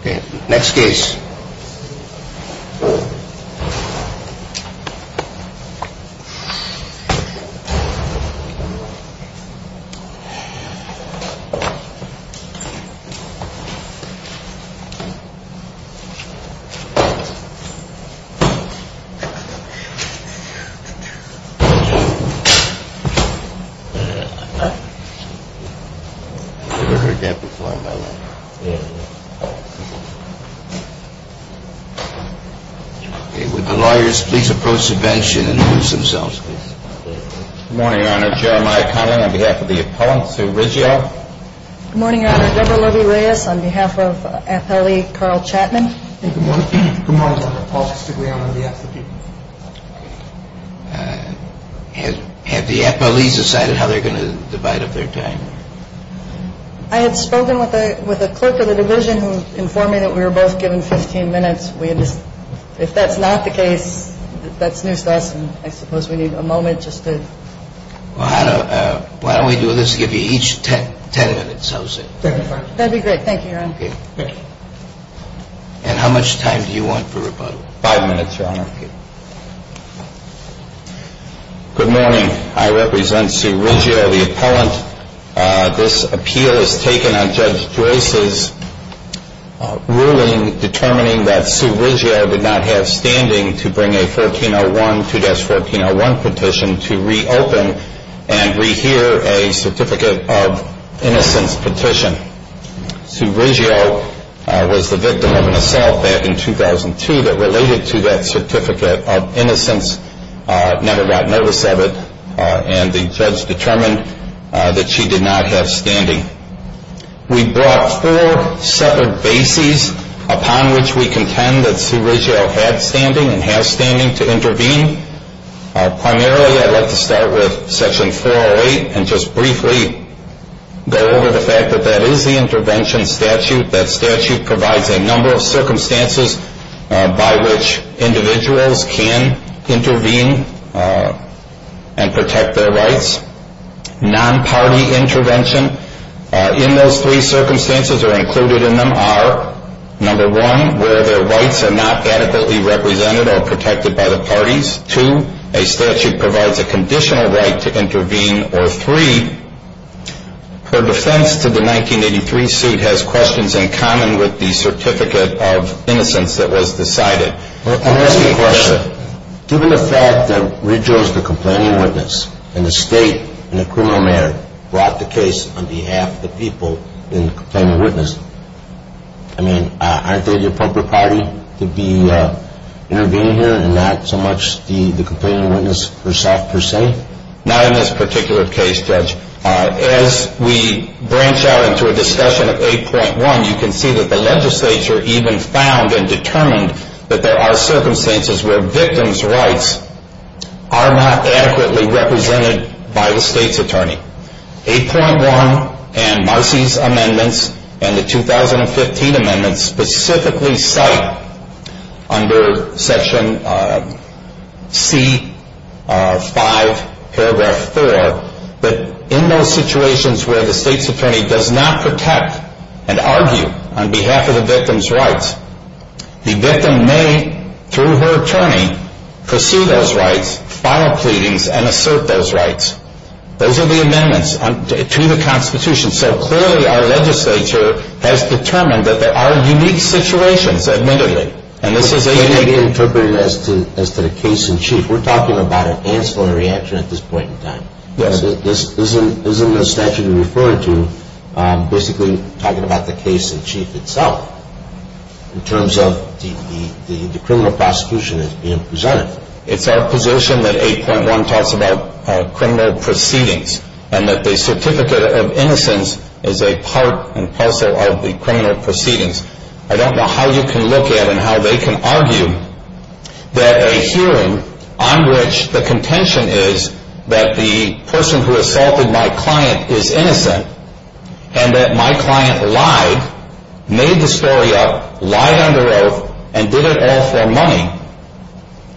Okay.... Next case. Never heard that before in my life. Okay. Would the lawyers please approach the bench and introduce themselves, please? Good morning, Your Honor. Jeremiah Cunningham on behalf of the appellant, Sue Rizzio. Good morning, Your Honor. Deborah Lovie-Reyes on behalf of the appellee, Carl Chapman. Good morning, Your Honor. Paul Stigliano on behalf of the people. Have the appellees decided how they're going to divide up their time? I had spoken with a clerk of the division who informed me that we were both given 15 minutes. If that's not the case, that's noose to us, and I suppose we need a moment just to... Why don't we do this, give you each 10 minutes, how's that? That'd be great. Thank you, Your Honor. And how much time do you want for rebuttal? Five minutes, Your Honor. Thank you. Good morning. I represent Sue Rizzio, the appellant. This appeal is taken on Judge Joyce's ruling determining that Sue Rizzio did not have standing to bring a 1401, 2-1401 petition to reopen and rehear a Certificate of Innocence petition. Sue Rizzio was the victim of an assault back in 2002 that related to that Certificate of Innocence, never got notice of it, and the judge determined that she did not have standing. We brought four separate bases upon which we contend that Sue Rizzio had standing and has standing to intervene. Primarily, I'd like to start with Section 408 and just briefly go over the fact that that is the intervention statute. That statute provides a number of circumstances by which individuals can intervene and protect their rights. Non-party intervention, in those three circumstances or included in them are, number one, where their rights are not adequately represented or protected by the parties. Two, a statute provides a conditional right to intervene. Or three, her defense to the 1983 suit has questions in common with the Certificate of Innocence that was decided. I'm asking a question. Given the fact that Rizzio is the complaining witness and the state and the criminal mayor brought the case on behalf of the people in the complaining witness, I mean, aren't they the appropriate party to be intervening here and not so much the complaining witness herself per se? Not in this particular case, Judge. As we branch out into a discussion of 8.1, you can see that the legislature even found and determined that there are circumstances where victims' rights are not adequately represented by the state's attorney. 8.1 and Marcy's amendments and the 2015 amendments specifically cite under Section C5, paragraph 4, that in those situations where the state's attorney does not protect and argue on behalf of the victim's rights, the victim may, through her attorney, pursue those rights, file pleadings, and assert those rights. Those are the amendments to the Constitution. So clearly our legislature has determined that there are unique situations, admittedly. And this is a unique... This may be interpreted as to the case-in-chief. We're talking about an answer and a reaction at this point in time. Yes. This isn't a statute to refer to basically talking about the case-in-chief itself in terms of the criminal prosecution that's being presented. It's our position that 8.1 talks about criminal proceedings and that the certificate of innocence is a part and parcel of the criminal proceedings. I don't know how you can look at and how they can argue that a hearing on which the contention is that the person who assaulted my client is innocent and that my client lied, made the story up, lied under oath, and did it all for money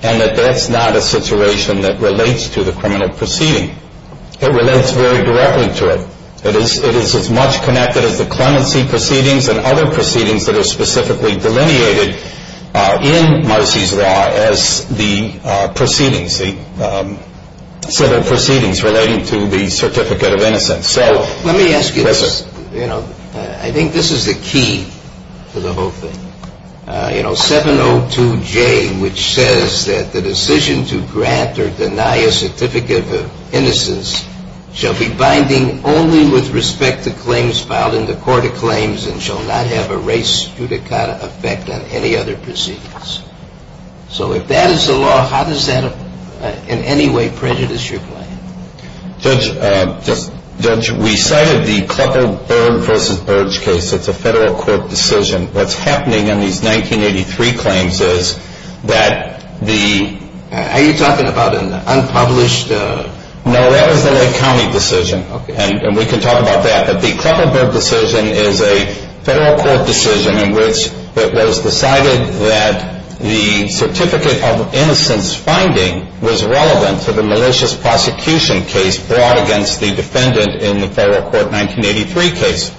and that that's not a situation that relates to the criminal proceeding. It relates very directly to it. It is as much connected as the clemency proceedings and other proceedings that are specifically delineated in Marcy's law as the proceedings, the set of proceedings relating to the certificate of innocence. Let me ask you this. I think this is the key to the whole thing. You know, 702J, which says that the decision to grant or deny a certificate of innocence shall be binding only with respect to claims filed in the Court of Claims and shall not have a race judicata effect on any other proceedings. So if that is the law, how does that in any way prejudice your claim? Judge, we cited the Klepper-Berg v. Berg case. It's a federal court decision. What's happening in these 1983 claims is that the— Are you talking about an unpublished— No, that was the Lake County decision, and we can talk about that. But the Klepper-Berg decision is a federal court decision in which it was decided that the certificate of innocence finding was relevant to the malicious prosecution case brought against the defendant in the federal court 1983 case.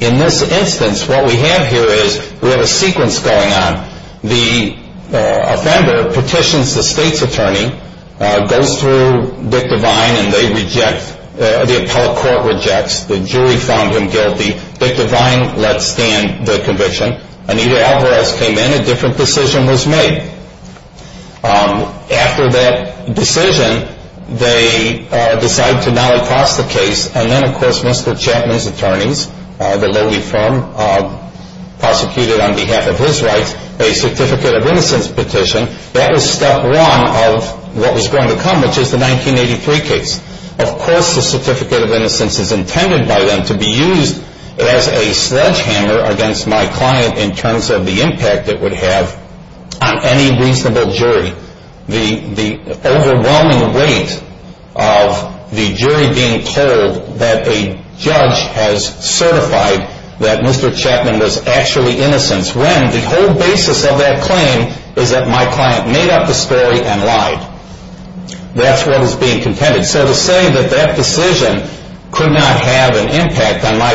In this instance, what we have here is we have a sequence going on. The offender petitions the state's attorney, goes through Dick Devine, and they reject—the appellate court rejects. The jury found him guilty. Dick Devine lets stand the conviction. Anita Alvarez came in. A different decision was made. After that decision, they decide to now enforce the case. And then, of course, Mr. Chapman's attorneys, the lowly firm, prosecuted on behalf of his rights a certificate of innocence petition. That was step one of what was going to come, which is the 1983 case. Of course, the certificate of innocence is intended by them to be used as a sledgehammer against my client in terms of the impact it would have on any reasonable jury. The overwhelming weight of the jury being told that a judge has certified that Mr. Chapman was actually innocent when the whole basis of that claim is that my client made up the story and lied. That's what is being contended. So to say that that decision could not have an impact on my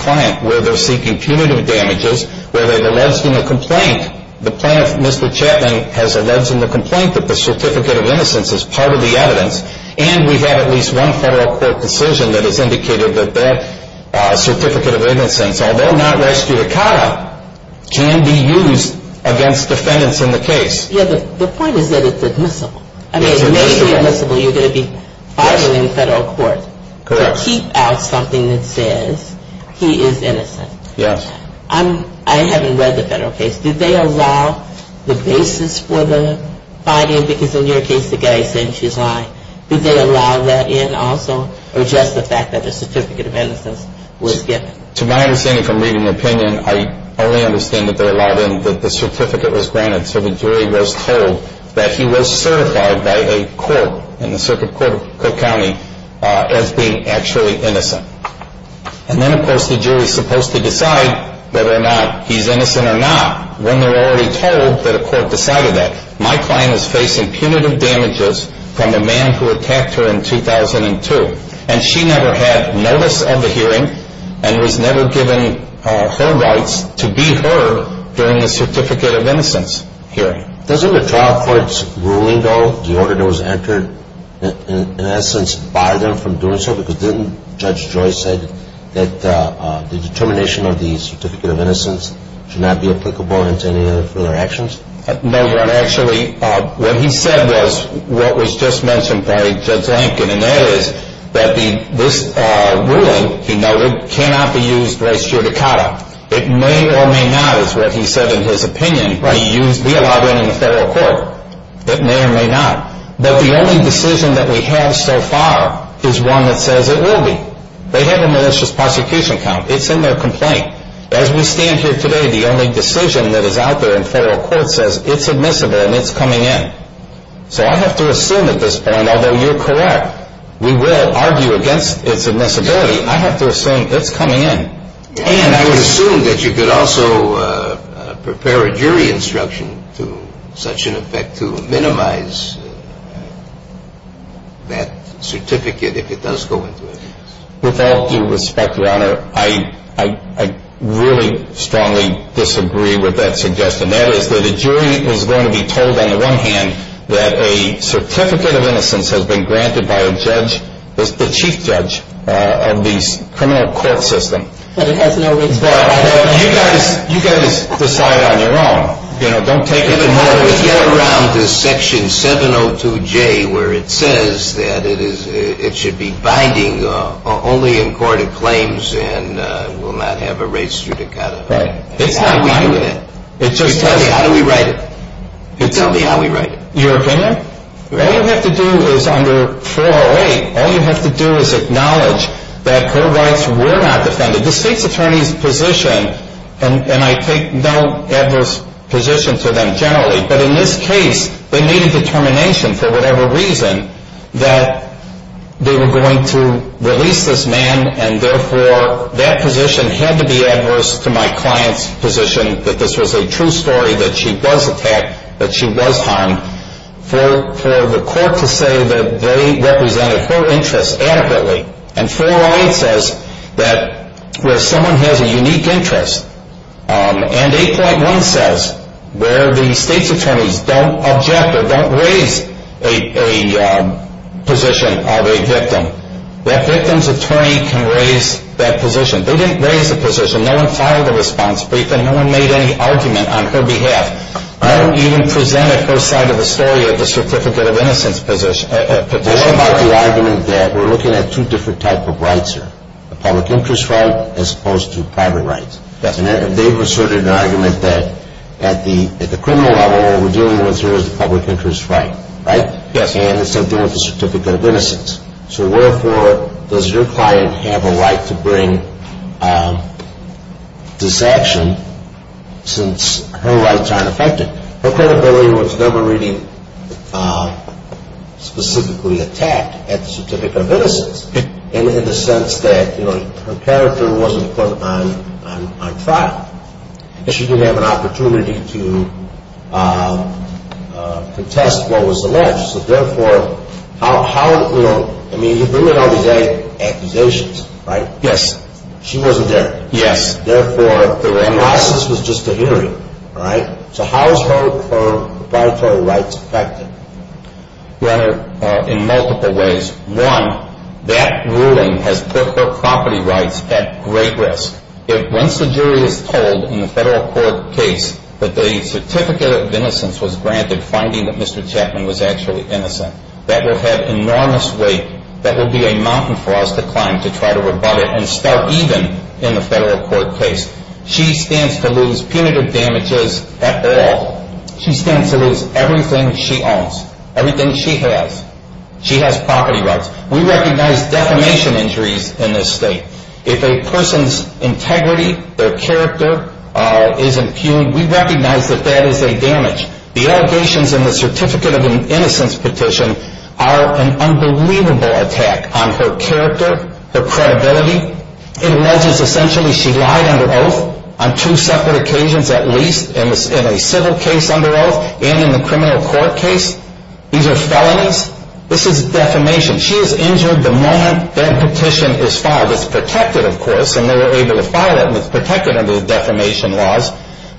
client where they're seeking punitive damages, where they've alleged in the complaint, the plaintiff, Mr. Chapman, has alleged in the complaint that the certificate of innocence is part of the evidence, and we have at least one federal court decision that has indicated that that certificate of innocence, although not res judicata, can be used against defendants in the case. Yeah, the point is that it's admissible. I mean, it may be admissible. You're going to be filing in federal court to keep out something that says he is innocent. Yes. I haven't read the federal case. Did they allow the basis for the filing? Because in your case, the guy is saying she's lying. Did they allow that in also or just the fact that the certificate of innocence was given? To my understanding from reading the opinion, I only understand that they allowed in that the certificate was granted so the jury was told that he was certified by a court in the Circuit Court of Cook County as being actually innocent. And then, of course, the jury is supposed to decide whether or not he's innocent or not when they're already told that a court decided that. My client is facing punitive damages from the man who attacked her in 2002, and she never had notice of the hearing and was never given her rights to be heard during the certificate of innocence hearing. Doesn't the trial court's ruling, though, the order that was entered, in essence, bar them from doing so because didn't Judge Joyce say that the determination of the certificate of innocence should not be applicable in any other actions? No, Your Honor. Actually, what he said was what was just mentioned by Judge Lankin, and that is that this ruling, he noted, cannot be used res judicata. It may or may not, is what he said in his opinion, be allowed in in the federal court. It may or may not. But the only decision that we have so far is one that says it will be. They have a malicious prosecution count. It's in their complaint. As we stand here today, the only decision that is out there in federal court says it's admissible and it's coming in. So I have to assume at this point, although you're correct, we will argue against its admissibility. I have to assume it's coming in. And I would assume that you could also prepare a jury instruction to such an effect to minimize that certificate if it does go into it. With all due respect, Your Honor, I really strongly disagree with that suggestion. That is that a jury is going to be told on the one hand that a certificate of innocence has been granted by a judge, the chief judge, and the criminal court system. But it has no responsibility. You guys decide on your own. You know, don't take it. Even more, let's get around to Section 702J, where it says that it should be binding only in court of claims and will not have a res judicata. It's not binding. How do we do that? Tell me, how do we write it? Tell me how we write it. Your opinion? All you have to do is under 408, all you have to do is acknowledge that her rights were not defended. The state's attorney's position, and I take no adverse position to them generally, but in this case, they made a determination for whatever reason that they were going to release this man, and therefore that position had to be adverse to my client's position that this was a true story, that she was attacked, that she was harmed, for the court to say that they represented her interests adequately. And 408 says that where someone has a unique interest, and 8.1 says where the state's attorneys don't object or don't raise a position of a victim, that victim's attorney can raise that position. They didn't raise the position. No one filed a response brief, and no one made any argument on her behalf. No one even presented her side of the story of the Certificate of Innocence petition. What about the argument that we're looking at two different types of rights here, the public interest right as opposed to private rights? And they've asserted an argument that at the criminal level, what we're dealing with here is the public interest right, right? And it's something with the Certificate of Innocence. So therefore, does your client have a right to bring this action since her rights aren't affected? Her credibility was never really specifically attacked at the Certificate of Innocence, in the sense that her character wasn't put on file. She didn't have an opportunity to contest what was alleged. So therefore, how, you know, I mean, you bring in all these accusations, right? Yes. She wasn't there. Yes. Therefore, her license was just a hearing, all right? So how is her proprietary rights affected? Your Honor, in multiple ways. One, that ruling has put her property rights at great risk. Once the jury is told in the federal court case that the Certificate of Innocence was granted, finding that Mr. Chapman was actually innocent, that will have enormous weight. That will be a mountain for us to climb to try to rebut it and start even in the federal court case. She stands to lose punitive damages at all. She stands to lose everything she owns, everything she has. She has property rights. We recognize defamation injuries in this state. If a person's integrity, their character, is impugned, we recognize that that is a damage. The allegations in the Certificate of Innocence petition are an unbelievable attack on her character, her credibility. It alleges essentially she lied under oath on two separate occasions at least, in a civil case under oath and in the criminal court case. These are felonies. This is defamation. She is injured the moment that petition is filed. It's protected, of course, and they were able to file it and it's protected under the defamation laws.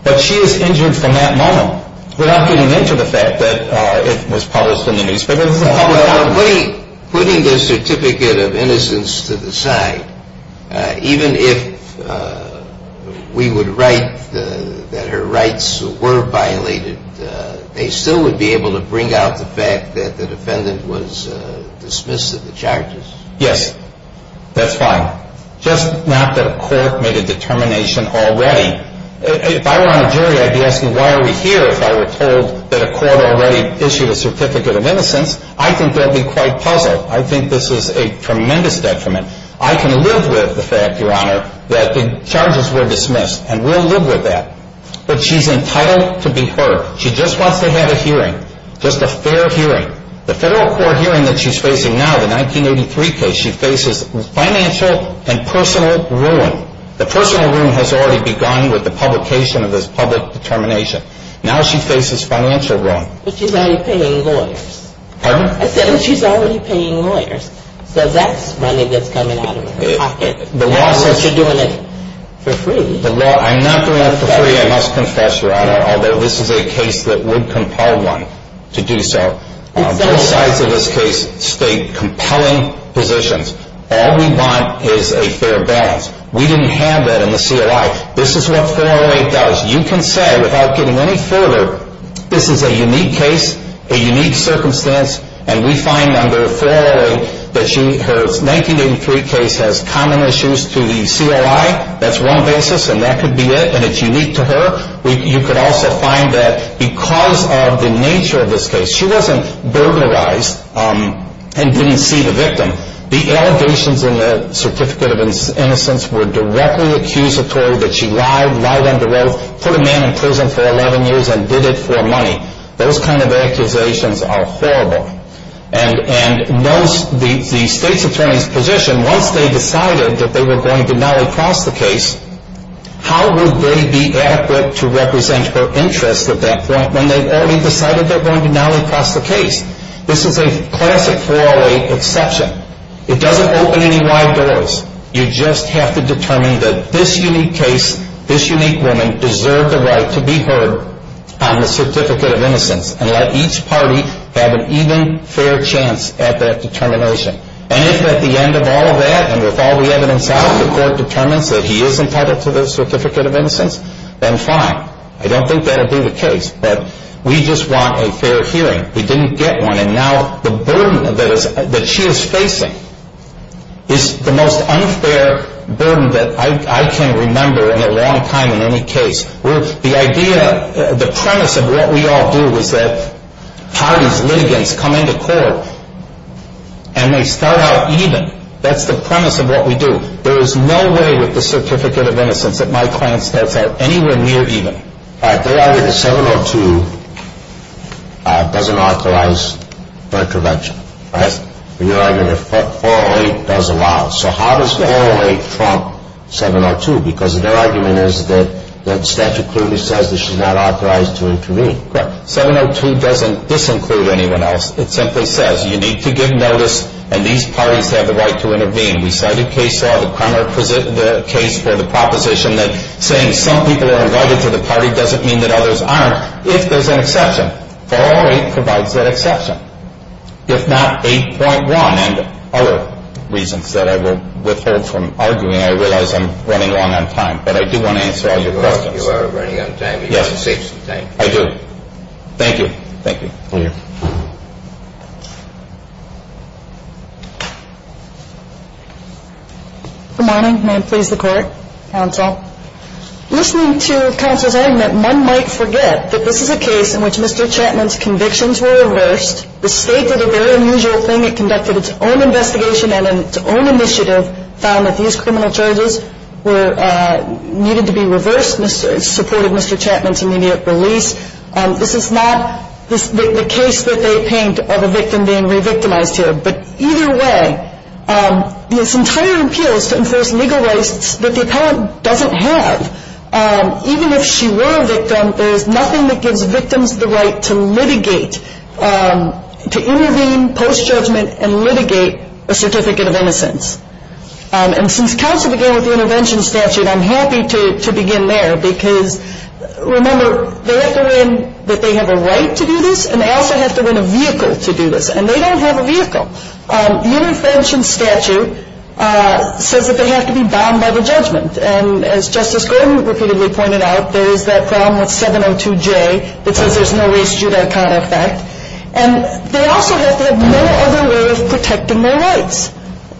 But she is injured from that moment. We're not getting into the fact that it was published in the newspaper. Putting the Certificate of Innocence to the side, even if we would write that her rights were violated, they still would be able to bring out the fact that the defendant was dismissed of the charges. Yes, that's fine. Just not that a court made a determination already. If I were on a jury, I'd be asking why are we here if I were told that a court already issued a Certificate of Innocence. I think that would be quite puzzled. I think this is a tremendous detriment. I can live with the fact, Your Honor, that the charges were dismissed, and we'll live with that. But she's entitled to be heard. She just wants to have a hearing, just a fair hearing. The Federal Court hearing that she's facing now, the 1983 case, she faces financial and personal ruin. The personal ruin has already begun with the publication of this public determination. Now she faces financial ruin. But she's already paying lawyers. Pardon? I said, but she's already paying lawyers. So that's money that's coming out of her pocket. The law says she's doing it for free. I'm not doing it for free, I must confess, Your Honor, although this is a case that would compel one to do so. Both sides of this case state compelling positions. All we want is a fair balance. We didn't have that in the COI. This is what 408 does. You can say, without getting any further, this is a unique case, a unique circumstance, and we find under 408 that her 1983 case has common issues to the COI. That's one basis, and that could be it, and it's unique to her. You could also find that because of the nature of this case, she wasn't burglarized and didn't see the victim. The allegations in the Certificate of Innocence were directly accusatory that she lied, lied under oath, put a man in prison for 11 years and did it for money. Those kind of accusations are horrible. And the State's Attorney's position, once they decided that they were going to nolly-cross the case, how would they be adequate to represent her interests at that point when they've already decided they're going to nolly-cross the case? This is a classic 408 exception. It doesn't open any wide doors. You just have to determine that this unique case, this unique woman, can deserve the right to be heard on the Certificate of Innocence and let each party have an even fair chance at that determination. And if at the end of all of that and with all the evidence out, the court determines that he is entitled to the Certificate of Innocence, then fine. I don't think that would be the case, but we just want a fair hearing. We didn't get one, and now the burden that she is facing is the most unfair burden that I can remember in a long time in any case. The idea, the premise of what we all do is that parties, litigants, come into court, and they start out even. That's the premise of what we do. There is no way with the Certificate of Innocence that my client starts out anywhere near even. All right, they argue that 702 doesn't authorize her intervention. You're arguing that 408 does allow. So how does 408 trump 702? Because their argument is that the statute clearly says that she's not authorized to intervene. Correct. 702 doesn't disinclude anyone else. It simply says you need to give notice, and these parties have the right to intervene. We cited case law, the Kramer case for the proposition that saying some people are invited to the party doesn't mean that others aren't if there's an exception. And 408 provides that exception, if not 8.1 and other reasons that I will withhold from arguing. I realize I'm running long on time, but I do want to answer all your questions. You are running out of time. Yes. You should save some time. I do. Thank you. Thank you. Thank you. Good morning. May it please the Court, Counsel. Listening to Counsel's argument, one might forget that this is a case in which Mr. Chapman's convictions were reversed. The State did a very unusual thing. It conducted its own investigation and in its own initiative found that these criminal charges were needed to be reversed. It supported Mr. Chapman's immediate release. This is not the case that they paint of a victim being re-victimized here. But either way, this entire appeal is to enforce legal rights that the appellant doesn't have. Even if she were a victim, there is nothing that gives victims the right to litigate, to intervene post-judgment and litigate a certificate of innocence. And since Counsel began with the intervention statute, I'm happy to begin there because, remember, they have to win that they have a right to do this, and they also have to win a vehicle to do this. And they don't have a vehicle. The intervention statute says that they have to be bound by the judgment. And as Justice Gordon repeatedly pointed out, there is that problem with 702J that says there's no race judicata effect. And they also have to have no other way of protecting their rights.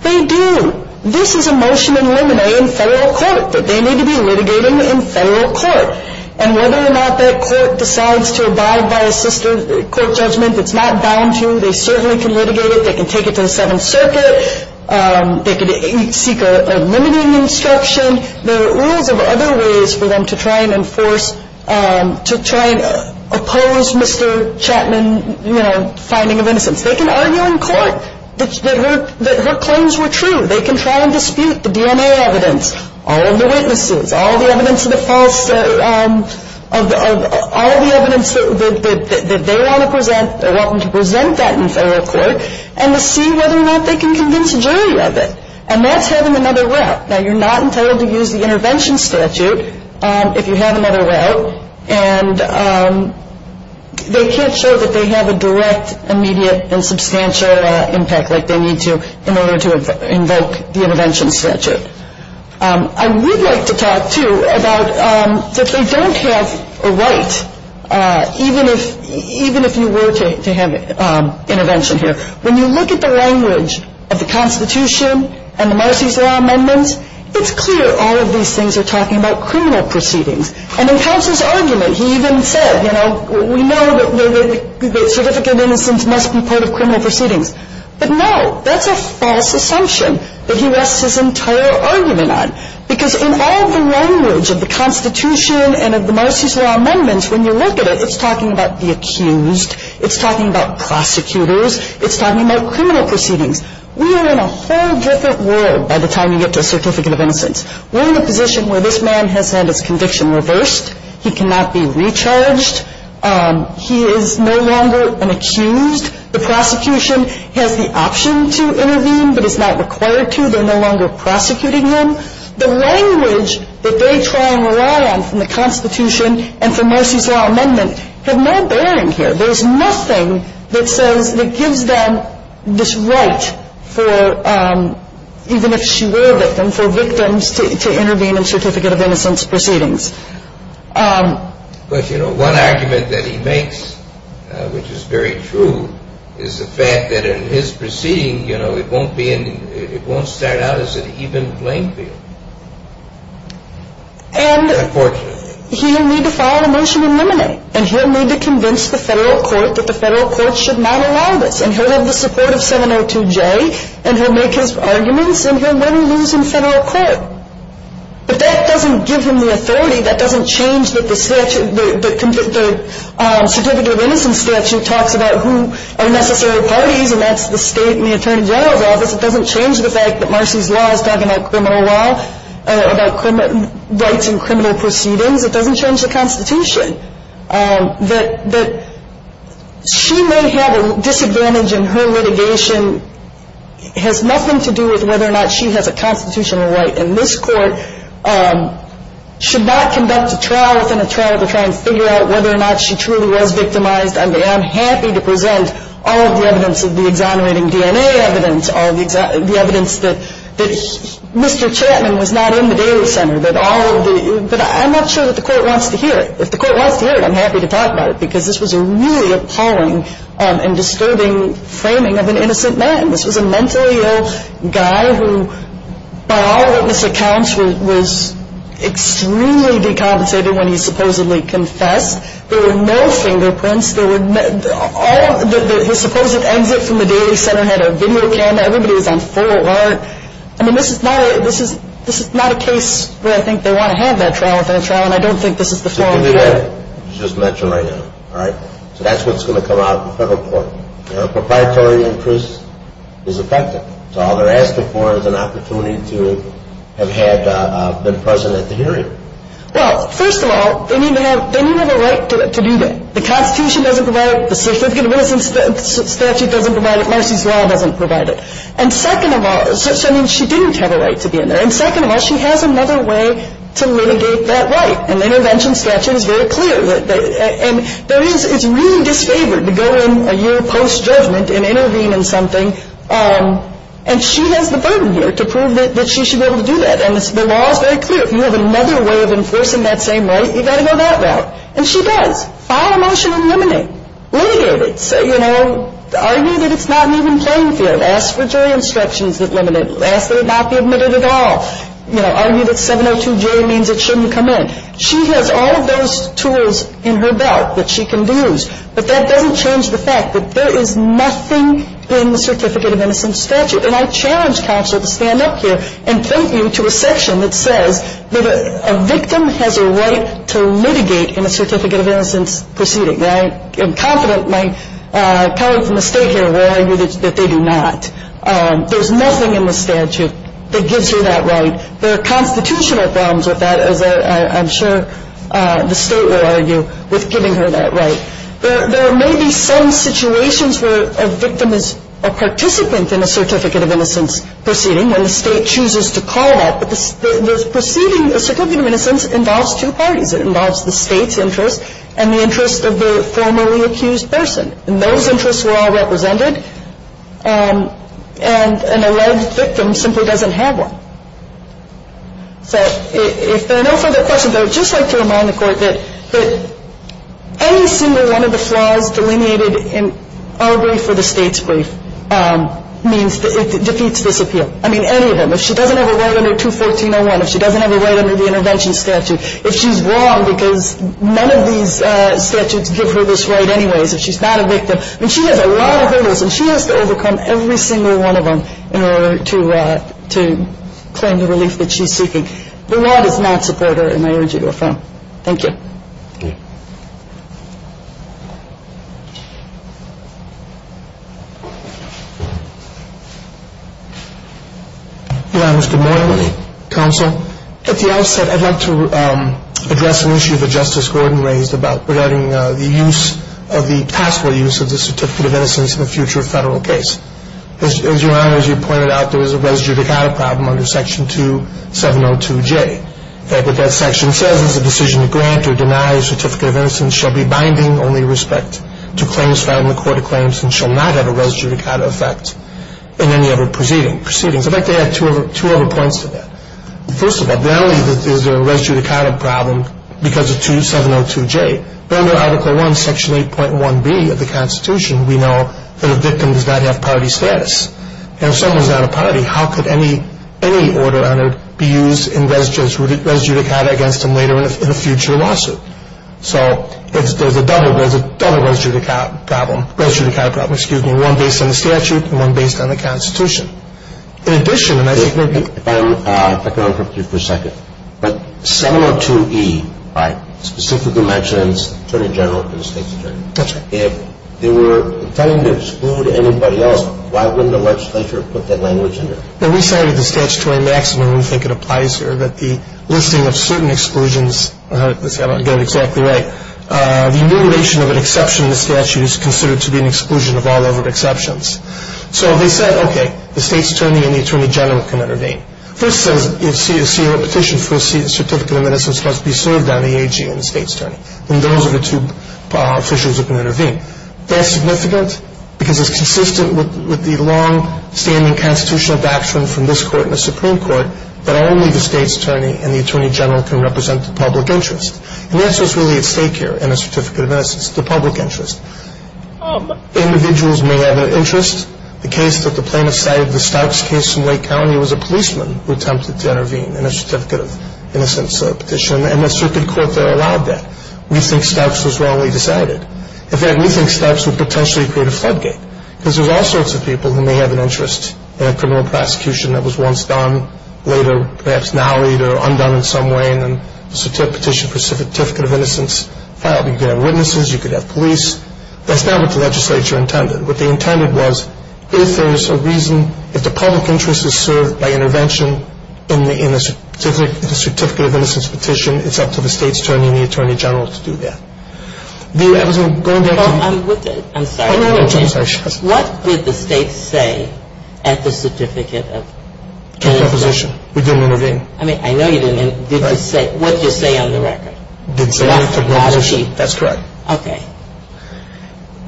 They do. This is a motion in limine in federal court that they need to be litigating in federal court. And whether or not that court decides to abide by a sister court judgment, it's not bound to. They certainly can litigate it. They can take it to the Seventh Circuit. They can seek a limiting instruction. There are rules of other ways for them to try and enforce, to try and oppose Mr. Chapman, you know, finding of innocence. They can argue in court that her claims were true. They can try and dispute the DNA evidence, all of the witnesses, all of the evidence of the false, all of the evidence that they want to present, they want them to present that in federal court, and to see whether or not they can convince a jury of it. And that's having another route. Now, you're not entitled to use the intervention statute if you have another route. And they can't show that they have a direct, immediate, and substantial impact like they need to in order to invoke the intervention statute. I would like to talk, too, about that they don't have a right, even if you were to have intervention here. When you look at the language of the Constitution and the Marcy's Law amendments, it's clear all of these things are talking about criminal proceedings. And in Counsel's argument, he even said, you know, we know that certificate of innocence must be part of criminal proceedings. But, no, that's a false assumption that he rests his entire argument on. Because in all of the language of the Constitution and of the Marcy's Law amendments, when you look at it, it's talking about the accused, it's talking about prosecutors, it's talking about criminal proceedings. We are in a whole different world by the time you get to a certificate of innocence. We're in a position where this man has had his conviction reversed. He cannot be recharged. He is no longer an accused. The prosecution has the option to intervene but is not required to. They're no longer prosecuting him. The language that they try and rely on from the Constitution and from Marcy's Law amendment have no bearing here. There's nothing that says, that gives them this right for, even if she were a victim, for victims to intervene in certificate of innocence proceedings. But, you know, one argument that he makes, which is very true, is the fact that in his proceeding, you know, it won't start out as an even playing field. Unfortunately. He'll need to file a motion to eliminate and he'll need to convince the federal court that the federal court should not allow this and he'll have the support of 702J and he'll make his arguments and he'll win or lose in federal court. But that doesn't give him the authority. That doesn't change that the statute, the certificate of innocence statute, talks about who are necessary parties and that's the state and the attorney general's office. It doesn't change the fact that Marcy's Law is talking about criminal law, about rights in criminal proceedings. It doesn't change the Constitution. That she may have a disadvantage in her litigation has nothing to do with whether or not she has a constitutional right. And this court should not conduct a trial within a trial to try and figure out whether or not she truly was victimized. I mean, I'm happy to present all of the evidence of the exonerating DNA evidence, all of the evidence that Mr. Chapman was not in the Daly Center, that all of the – but I'm not sure that the court wants to hear it. If the court wants to hear it, I'm happy to talk about it because this was a really appalling and disturbing framing of an innocent man. This was a mentally ill guy who, by all witness accounts, was extremely decompensated when he supposedly confessed. There were no fingerprints. There were – all – the supposed exit from the Daly Center had a veneer can. Everybody was on full alert. I mean, this is not a – this is not a case where I think they want to have that trial within a trial, and I don't think this is the forum for it. Just mention right now, all right? So that's what's going to come out in federal court. A proprietary interest is affected. So all they're asking for is an opportunity to have had – been present at the hearing. Well, first of all, they need to have – they need to have a right to do that. The Constitution doesn't provide it. The Certificate of Innocence Statute doesn't provide it. Marcy's law doesn't provide it. And second of all – so, I mean, she didn't have a right to be in there. And second of all, she has another way to litigate that right. And the Intervention Statute is very clear. And there is – it's really disfavored to go in a year post-judgment and intervene in something, and she has the burden here to prove that she should be able to do that. And the law is very clear. If you have another way of enforcing that same right, you've got to go that route. And she does. File a motion and eliminate. Litigate it. You know, argue that it's not an even playing field. Ask for jury instructions that limit it. Ask that it not be admitted at all. You know, argue that 702J means it shouldn't come in. She has all of those tools in her belt that she can use. But that doesn't change the fact that there is nothing in the Certificate of Innocence Statute. And I challenge counsel to stand up here and thank you to a section that says that a victim has a right to litigate in a Certificate of Innocence proceeding. I am confident my colleague from the State here will argue that they do not. There's nothing in the statute that gives her that right. There are constitutional problems with that, as I'm sure the State will argue, with giving her that right. There may be some situations where a victim is a participant in a Certificate of Innocence proceeding, when the State chooses to call that. But the proceeding, the Certificate of Innocence, involves two parties. It involves the State's interest and the interest of the formerly accused person. And those interests were all represented. And an alleged victim simply doesn't have one. So if there are no further questions, I would just like to remind the Court that any single one of the flaws delineated in our brief or the State's brief means that it defeats this appeal. I mean, any of them. If she doesn't have a right under 214.01, if she doesn't have a right under the Intervention Statute, if she's wrong because none of these statutes give her this right anyways, if she's not a victim. I mean, she has a lot of hurdles, and she has to overcome every single one of them in order to claim the relief that she's seeking. The law does not support her, and I urge you to affirm. Thank you. Thank you. Your Honors, good morning. Good morning. Counsel. At the outset, I'd like to address an issue that Justice Gordon raised about regarding the use, the possible use of the Certificate of Innocence in a future federal case. As Your Honors, you pointed out there was a res judicata problem under Section 2702J. What that section says is a decision to grant or deny a Certificate of Innocence shall be binding only with respect to claims found in the Court of Claims and shall not have a res judicata effect in any other proceedings. I'd like to add two other points to that. First of all, not only is there a res judicata problem because of 2702J, but under Article I, Section 8.1b of the Constitution, we know that a victim does not have party status. And if someone's not a party, how could any order be used in res judicata against them later in a future lawsuit? So there's a double res judicata problem, one based on the statute and one based on the Constitution. If I could interrupt you for a second. But 702E specifically mentions Attorney General and the State's Attorney. That's right. If they were intending to exclude anybody else, why wouldn't the legislature put that language in there? When we cited the statutory maximum, we think it applies here that the listing of certain exclusions, let's see if I can get it exactly right, the elimination of an exception in the statute is considered to be an exclusion of all other exceptions. So they said, okay, the State's Attorney and the Attorney General can intervene. First says, you see a petition for a certificate of innocence must be served on the AG and the State's Attorney. And those are the two officials that can intervene. That's significant because it's consistent with the long-standing constitutional doctrine from this court and the Supreme Court that only the State's Attorney and the Attorney General can represent the public interest. And the answer is really at stake here in a certificate of innocence, the public interest. Individuals may have an interest. The case that the plaintiffs cited, the Starks case in Wake County, was a policeman who attempted to intervene in a certificate of innocence petition, and the circuit court there allowed that. We think Starks was wrongly decided. In fact, we think Starks would potentially create a floodgate because there's all sorts of people who may have an interest in a criminal prosecution that was once done, later perhaps now either undone in some way, and then a petition for a certificate of innocence filed. You could have witnesses. You could have police. That's not what the legislature intended. What they intended was if there's a reason, if the public interest is served by intervention in a certificate of innocence petition, it's up to the State's Attorney and the Attorney General to do that. I was going to ask you... Well, I'm with it. I'm sorry. I'm sorry. What did the State say at the certificate of... We didn't intervene. I mean, I know you didn't. What did you say on the record? That's correct. Okay.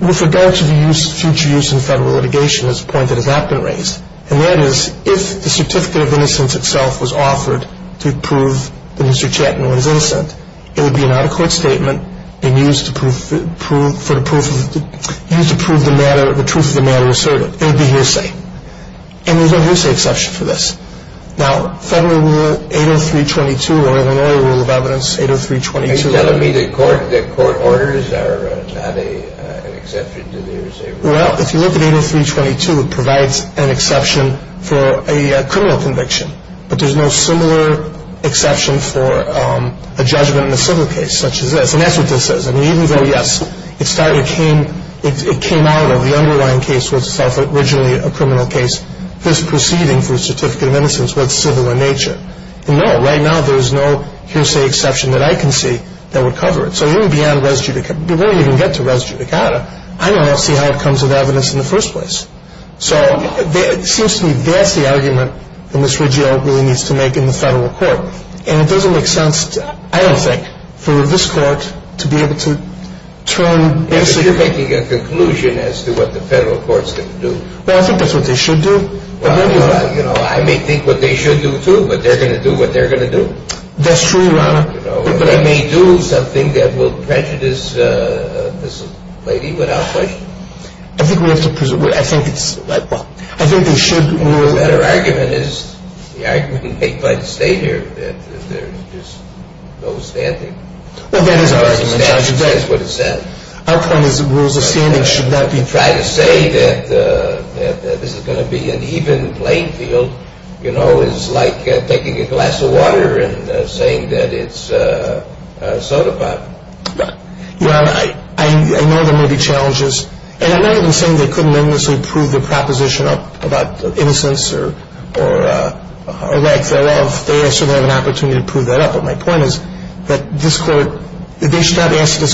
With regard to the future use in federal litigation, there's a point that has not been raised, and that is if the certificate of innocence itself was offered to prove that Mr. Chattanooga is innocent, it would be an out-of-court statement used to prove the truth of the matter asserted. It would be hearsay. And there's no hearsay exception for this. Now, Federal Rule 803.22 or Illinois Rule of Evidence 803.22... Are you telling me that court orders are not an exception to the hearsay rule? Well, if you look at 803.22, it provides an exception for a criminal conviction, but there's no similar exception for a judgment in a civil case such as this. And that's what this says. I mean, even though, yes, it came out of the underlying case was originally a criminal case, this proceeding for a certificate of innocence was civil in nature. No, right now there's no hearsay exception that I can see that would cover it. So even beyond res judicata, we won't even get to res judicata. I don't know how to see how it comes with evidence in the first place. So it seems to me that's the argument that Ms. Riggio really needs to make in the federal court. And it doesn't make sense, I don't think, for this court to be able to turn basically... You're making a conclusion as to what the federal courts can do. Well, I think that's what they should do. Well, you know, I may think what they should do, too, but they're going to do what they're going to do. That's true, Your Honor. You know, they may do something that will prejudice this lady without question. I think we have to presume. I think it's, well, I think they should rule... The better argument is, the argument may quite stay here, that there's just no standing. Well, that is our argument, Your Honor. That is what it says. Our point is rules of standing should not be... To try to say that this is going to be an even playing field, you know, is like taking a glass of water and saying that it's a soda pop. Your Honor, I know there may be challenges. And I'm not even saying they couldn't endlessly prove the proposition about innocence or lack thereof. They certainly have an opportunity to prove that up. But my point is that this court... of an adverse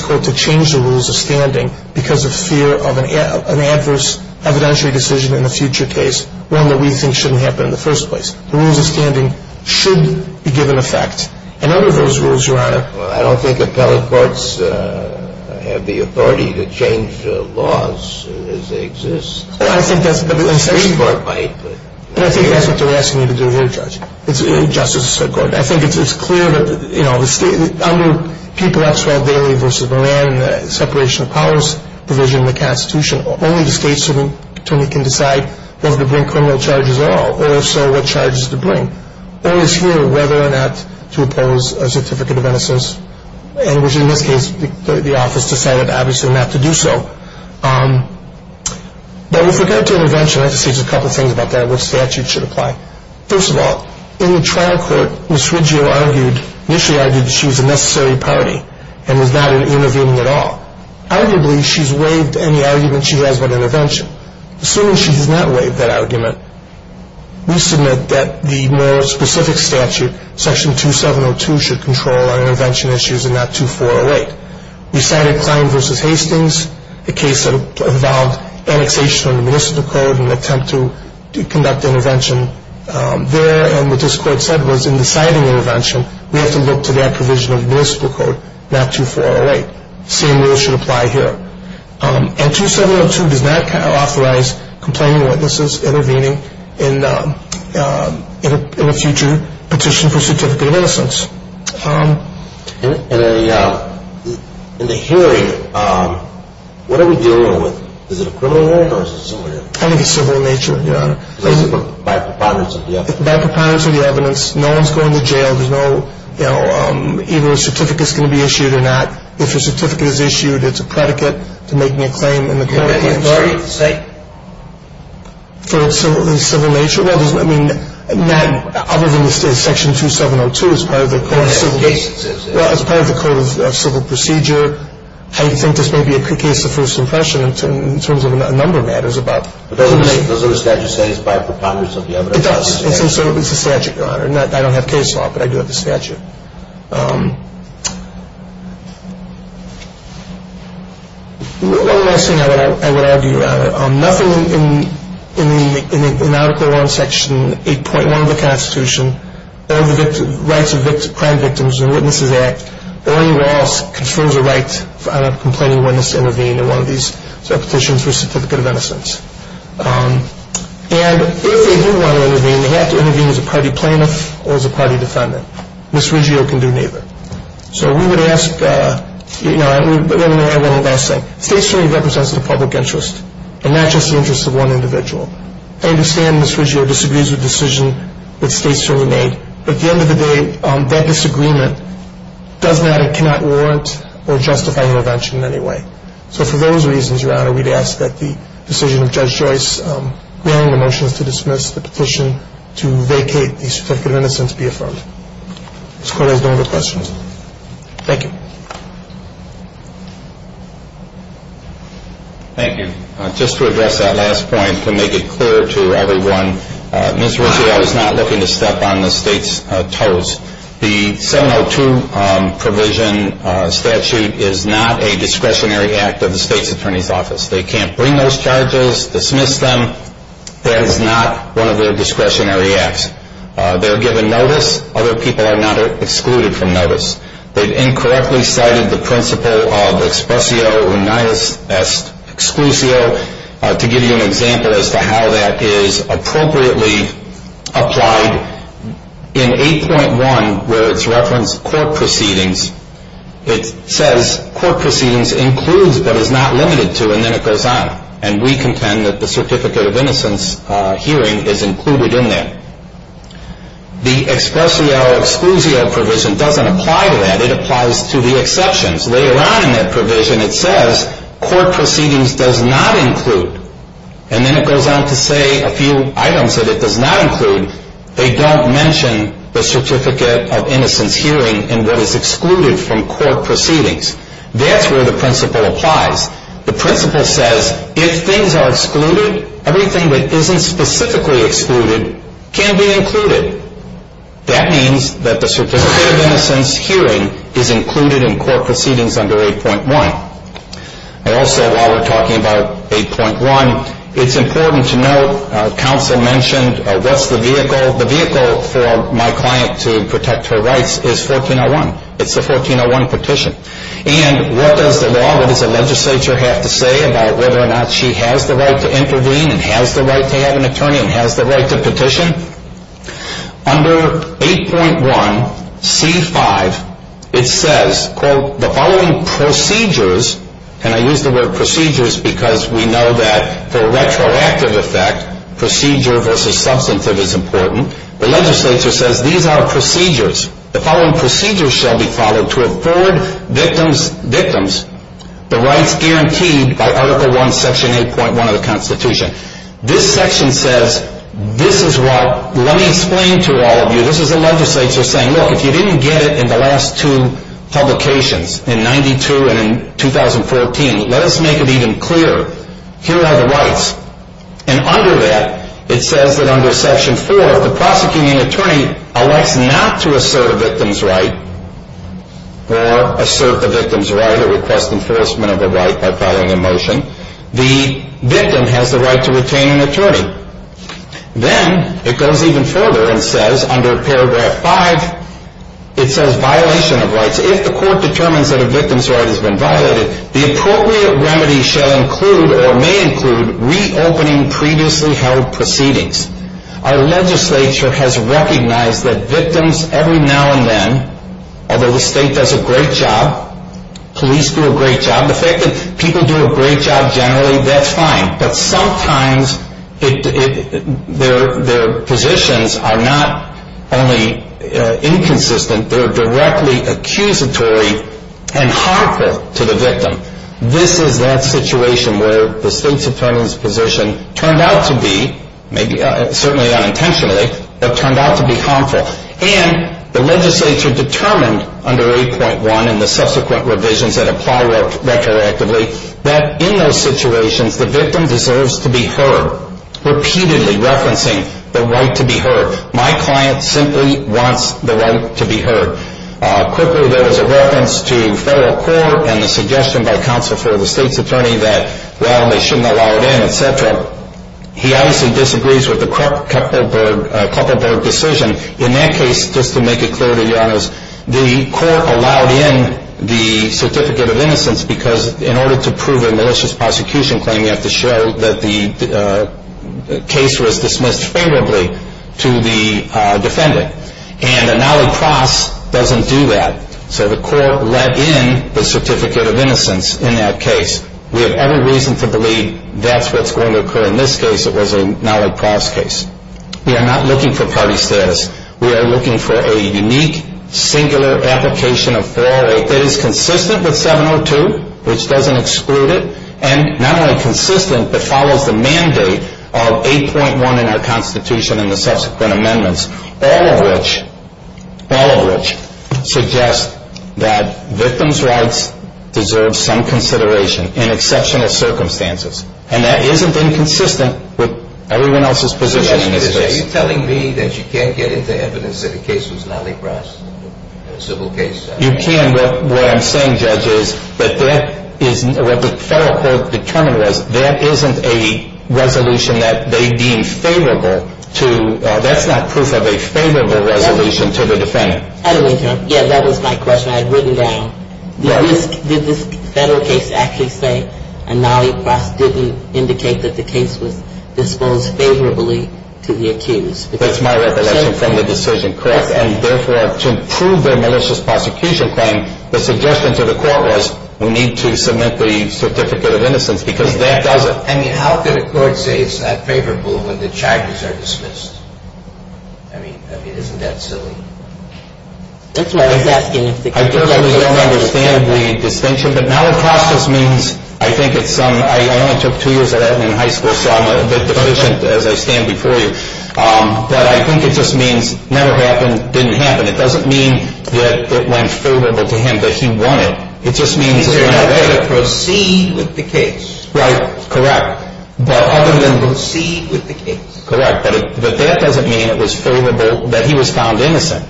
evidentiary decision in a future case, one that we think shouldn't happen in the first place. The rules of standing should be given effect. And under those rules, Your Honor... Well, I don't think appellate courts have the authority to change laws as they exist. Well, I think that's... The Supreme Court might, but... And I think that's what they're asking you to do here, Judge. It's in Justice's court. I think it's clear that, you know, under People, Epstein, Bailey v. Moran and the separation of powers provision in the Constitution, only the state attorney can decide whether to bring criminal charges at all, or if so, what charges to bring. It is here whether or not to oppose a certificate of innocence. And which, in this case, the office decided, obviously, not to do so. But if we're going to intervention, I have to say just a couple of things about that, which statute should apply. First of all, in the trial court, Ms. Riggio initially argued that she was a necessary party and was not intervening at all. Arguably, she's waived any argument she has about intervention. Assuming she does not waive that argument, we submit that the more specific statute, Section 2702, should control our intervention issues and not 2408. We cited Klein v. Hastings, a case that involved annexation of the Municipal Code and an attempt to conduct intervention there. And what this court said was in deciding intervention, we have to look to that provision of the Municipal Code, not 2408. The same rule should apply here. And 2702 does not authorize complaining witnesses intervening in a future petition for certificate of innocence. In the hearing, what are we dealing with? Is it a criminal warrant or is it something else? I think it's civil in nature, Your Honor. By preponderance of the evidence? By preponderance of the evidence. No one's going to jail. There's no, you know, either a certificate's going to be issued or not. If a certificate is issued, it's a predicate to making a claim in the court. Is that the authority of the state? In civil nature? Well, I mean, not other than Section 2702 as part of the Code of Civil Procedure. I think this may be a case of first impression in terms of a number of matters. But doesn't the statute say it's by preponderance of the evidence? It does. It's a statute, Your Honor. I don't have case law, but I do have the statute. One last thing I would add to you, Your Honor. Nothing in Article I, Section 8.1 of the Constitution or the Rights of Crime Victims and Witnesses Act or any law confirms a right for a complaining witness to intervene in one of these petitions for a certificate of innocence. And if they do want to intervene, they have to intervene as a party plaintiff or as a party defendant. Ms. Riggio can do neither. So we would ask, you know, and let me add one last thing. State's truly represents the public interest and not just the interest of one individual. I understand Ms. Riggio disagrees with the decision that State's truly made. But at the end of the day, that disagreement does not and cannot warrant or justify intervention in any way. So for those reasons, Your Honor, we'd ask that the decision of Judge Joyce, granting the motions to dismiss the petition to vacate the certificate of innocence, be affirmed. Ms. Cordes, no other questions. Thank you. Thank you. Just to address that last point, to make it clear to everyone, Ms. Riggio is not looking to step on the State's toes. The 702 provision statute is not a discretionary act of the State's Attorney's Office. They can't bring those charges, dismiss them. That is not one of their discretionary acts. They're given notice. Other people are not excluded from notice. They've incorrectly cited the principle of expressio unias exclusio to give you an example as to how that is appropriately applied. In 8.1, where it's referenced court proceedings, it says court proceedings includes but is not limited to, and then it goes on. And we contend that the certificate of innocence hearing is included in that. The expressio exclusio provision doesn't apply to that. It applies to the exceptions. Later on in that provision, it says court proceedings does not include, and then it goes on to say a few items that it does not include. They don't mention the certificate of innocence hearing in what is excluded from court proceedings. That's where the principle applies. The principle says if things are excluded, everything that isn't specifically excluded can be included. That means that the certificate of innocence hearing is included in court proceedings under 8.1. Also, while we're talking about 8.1, it's important to note counsel mentioned what's the vehicle. The vehicle for my client to protect her rights is 1401. It's the 1401 petition. And what does the law, what does the legislature have to say about whether or not she has the right to intervene and has the right to have an attorney and has the right to petition? Under 8.1c5, it says, quote, the following procedures, and I use the word procedures because we know that for retroactive effect, procedure versus substantive is important. The legislature says these are procedures. The following procedures shall be followed to afford victims the rights guaranteed by Article I, Section 8.1 of the Constitution. This section says this is what, let me explain to all of you, this is the legislature saying, look, if you didn't get it in the last two publications, in 92 and in 2014, let us make it even clearer. Here are the rights. And under that, it says that under Section 4, if the prosecuting attorney elects not to assert a victim's right or assert the victim's right or request enforcement of a right by filing a motion, the victim has the right to retain an attorney. Then it goes even further and says under Paragraph 5, it says violation of rights. If the court determines that a victim's right has been violated, the appropriate remedy shall include or may include reopening previously held proceedings. Our legislature has recognized that victims every now and then, although the state does a great job, police do a great job, the fact that people do a great job generally, that's fine, but sometimes their positions are not only inconsistent, they're directly accusatory and harmful to the victim. This is that situation where the state's attorney's position turned out to be, maybe certainly unintentionally, but turned out to be harmful. And the legislature determined under 8.1 and the subsequent revisions that apply retroactively, that in those situations, the victim deserves to be heard, repeatedly referencing the right to be heard. My client simply wants the right to be heard. Quickly, there was a reference to federal court and the suggestion by counsel for the state's attorney that, well, they shouldn't allow it in, etc. He obviously disagrees with the Kupferberg decision. In that case, just to make it clear to you, the court allowed in the certificate of innocence because in order to prove a malicious prosecution claim, you have to show that the case was dismissed favorably to the defendant. And the Nally Cross doesn't do that. So the court let in the certificate of innocence in that case. We have every reason to believe that's what's going to occur in this case. It was a Nally Cross case. We are not looking for party status. We are looking for a unique, singular application of 408 that is consistent with 702, which doesn't exclude it, and not only consistent but follows the mandate of 8.1 in our Constitution and the subsequent amendments, all of which suggest that victims' rights deserve some consideration in exceptional circumstances. And that isn't inconsistent with everyone else's position in this case. So you're telling me that you can't get into evidence that the case was Nally Cross, a civil case? You can. What I'm saying, Judge, is that what the federal court determined was there isn't a resolution that they deemed favorable to. That's not proof of a favorable resolution to the defendant. Yeah, that was my question. I had written it down. Did this federal case actually say a Nally Cross didn't indicate that the case was disposed favorably to the accused? That's my recollection from the decision, correct? And therefore, to prove their malicious prosecution claim, the suggestion to the court was we need to submit the certificate of innocence because that doesn't – I mean, how could a court say it's not favorable when the charges are dismissed? I mean, isn't that silly? That's why I was asking if the case – I personally don't understand the distinction, but Nally Cross just means – I think it's some – I only took two years of that in high school, so I'm a bit deficient as I stand before you. But I think it just means never happened, didn't happen. It doesn't mean that it went favorable to him, that he won it. It just means – He could have proceeded with the case. Right, correct. But other than – Proceed with the case. Correct. But that doesn't mean it was favorable, that he was found innocent.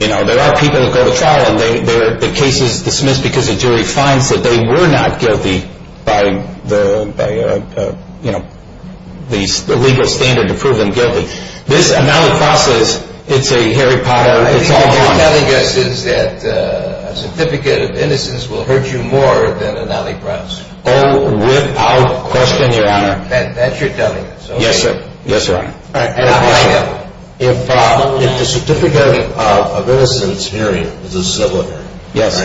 You know, there are people that go to trial and the case is dismissed because the jury finds that they were not guilty by, you know, the legal standard to prove them guilty. This – Nally Cross is – it's a Harry Potter – What you're telling us is that a certificate of innocence will hurt you more than a Nally Cross. Oh, without question, Your Honor. That's your telling us. Yes, sir. Yes, sir. All right. If the certificate of innocence, period, is a civil offender – Yes.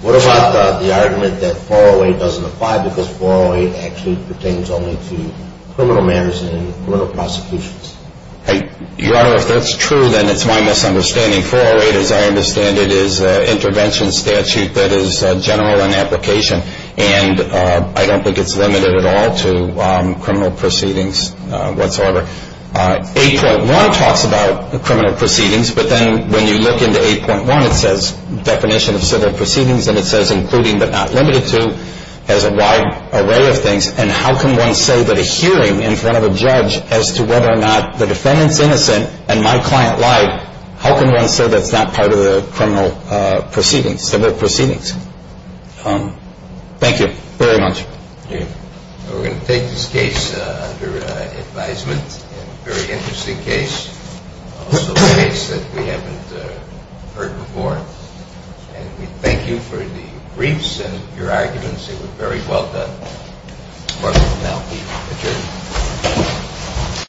What about the argument that 408 doesn't apply because 408 actually pertains only to criminal matters and criminal prosecutions? Your Honor, if that's true, then it's my misunderstanding. 408, as I understand it, is an intervention statute that is general in application. And I don't think it's limited at all to criminal proceedings whatsoever. 8.1 talks about criminal proceedings, but then when you look into 8.1, it says definition of civil proceedings, and it says including but not limited to has a wide array of things. And how can one say that a hearing in front of a judge as to whether or not the defendant's innocent and my client lied, how can one say that's not part of the criminal proceedings, civil proceedings? Thank you very much. We're going to take this case under advisement. A very interesting case. Also a case that we haven't heard before. And we thank you for the briefs and your arguments. They were very well done. Court is now adjourned.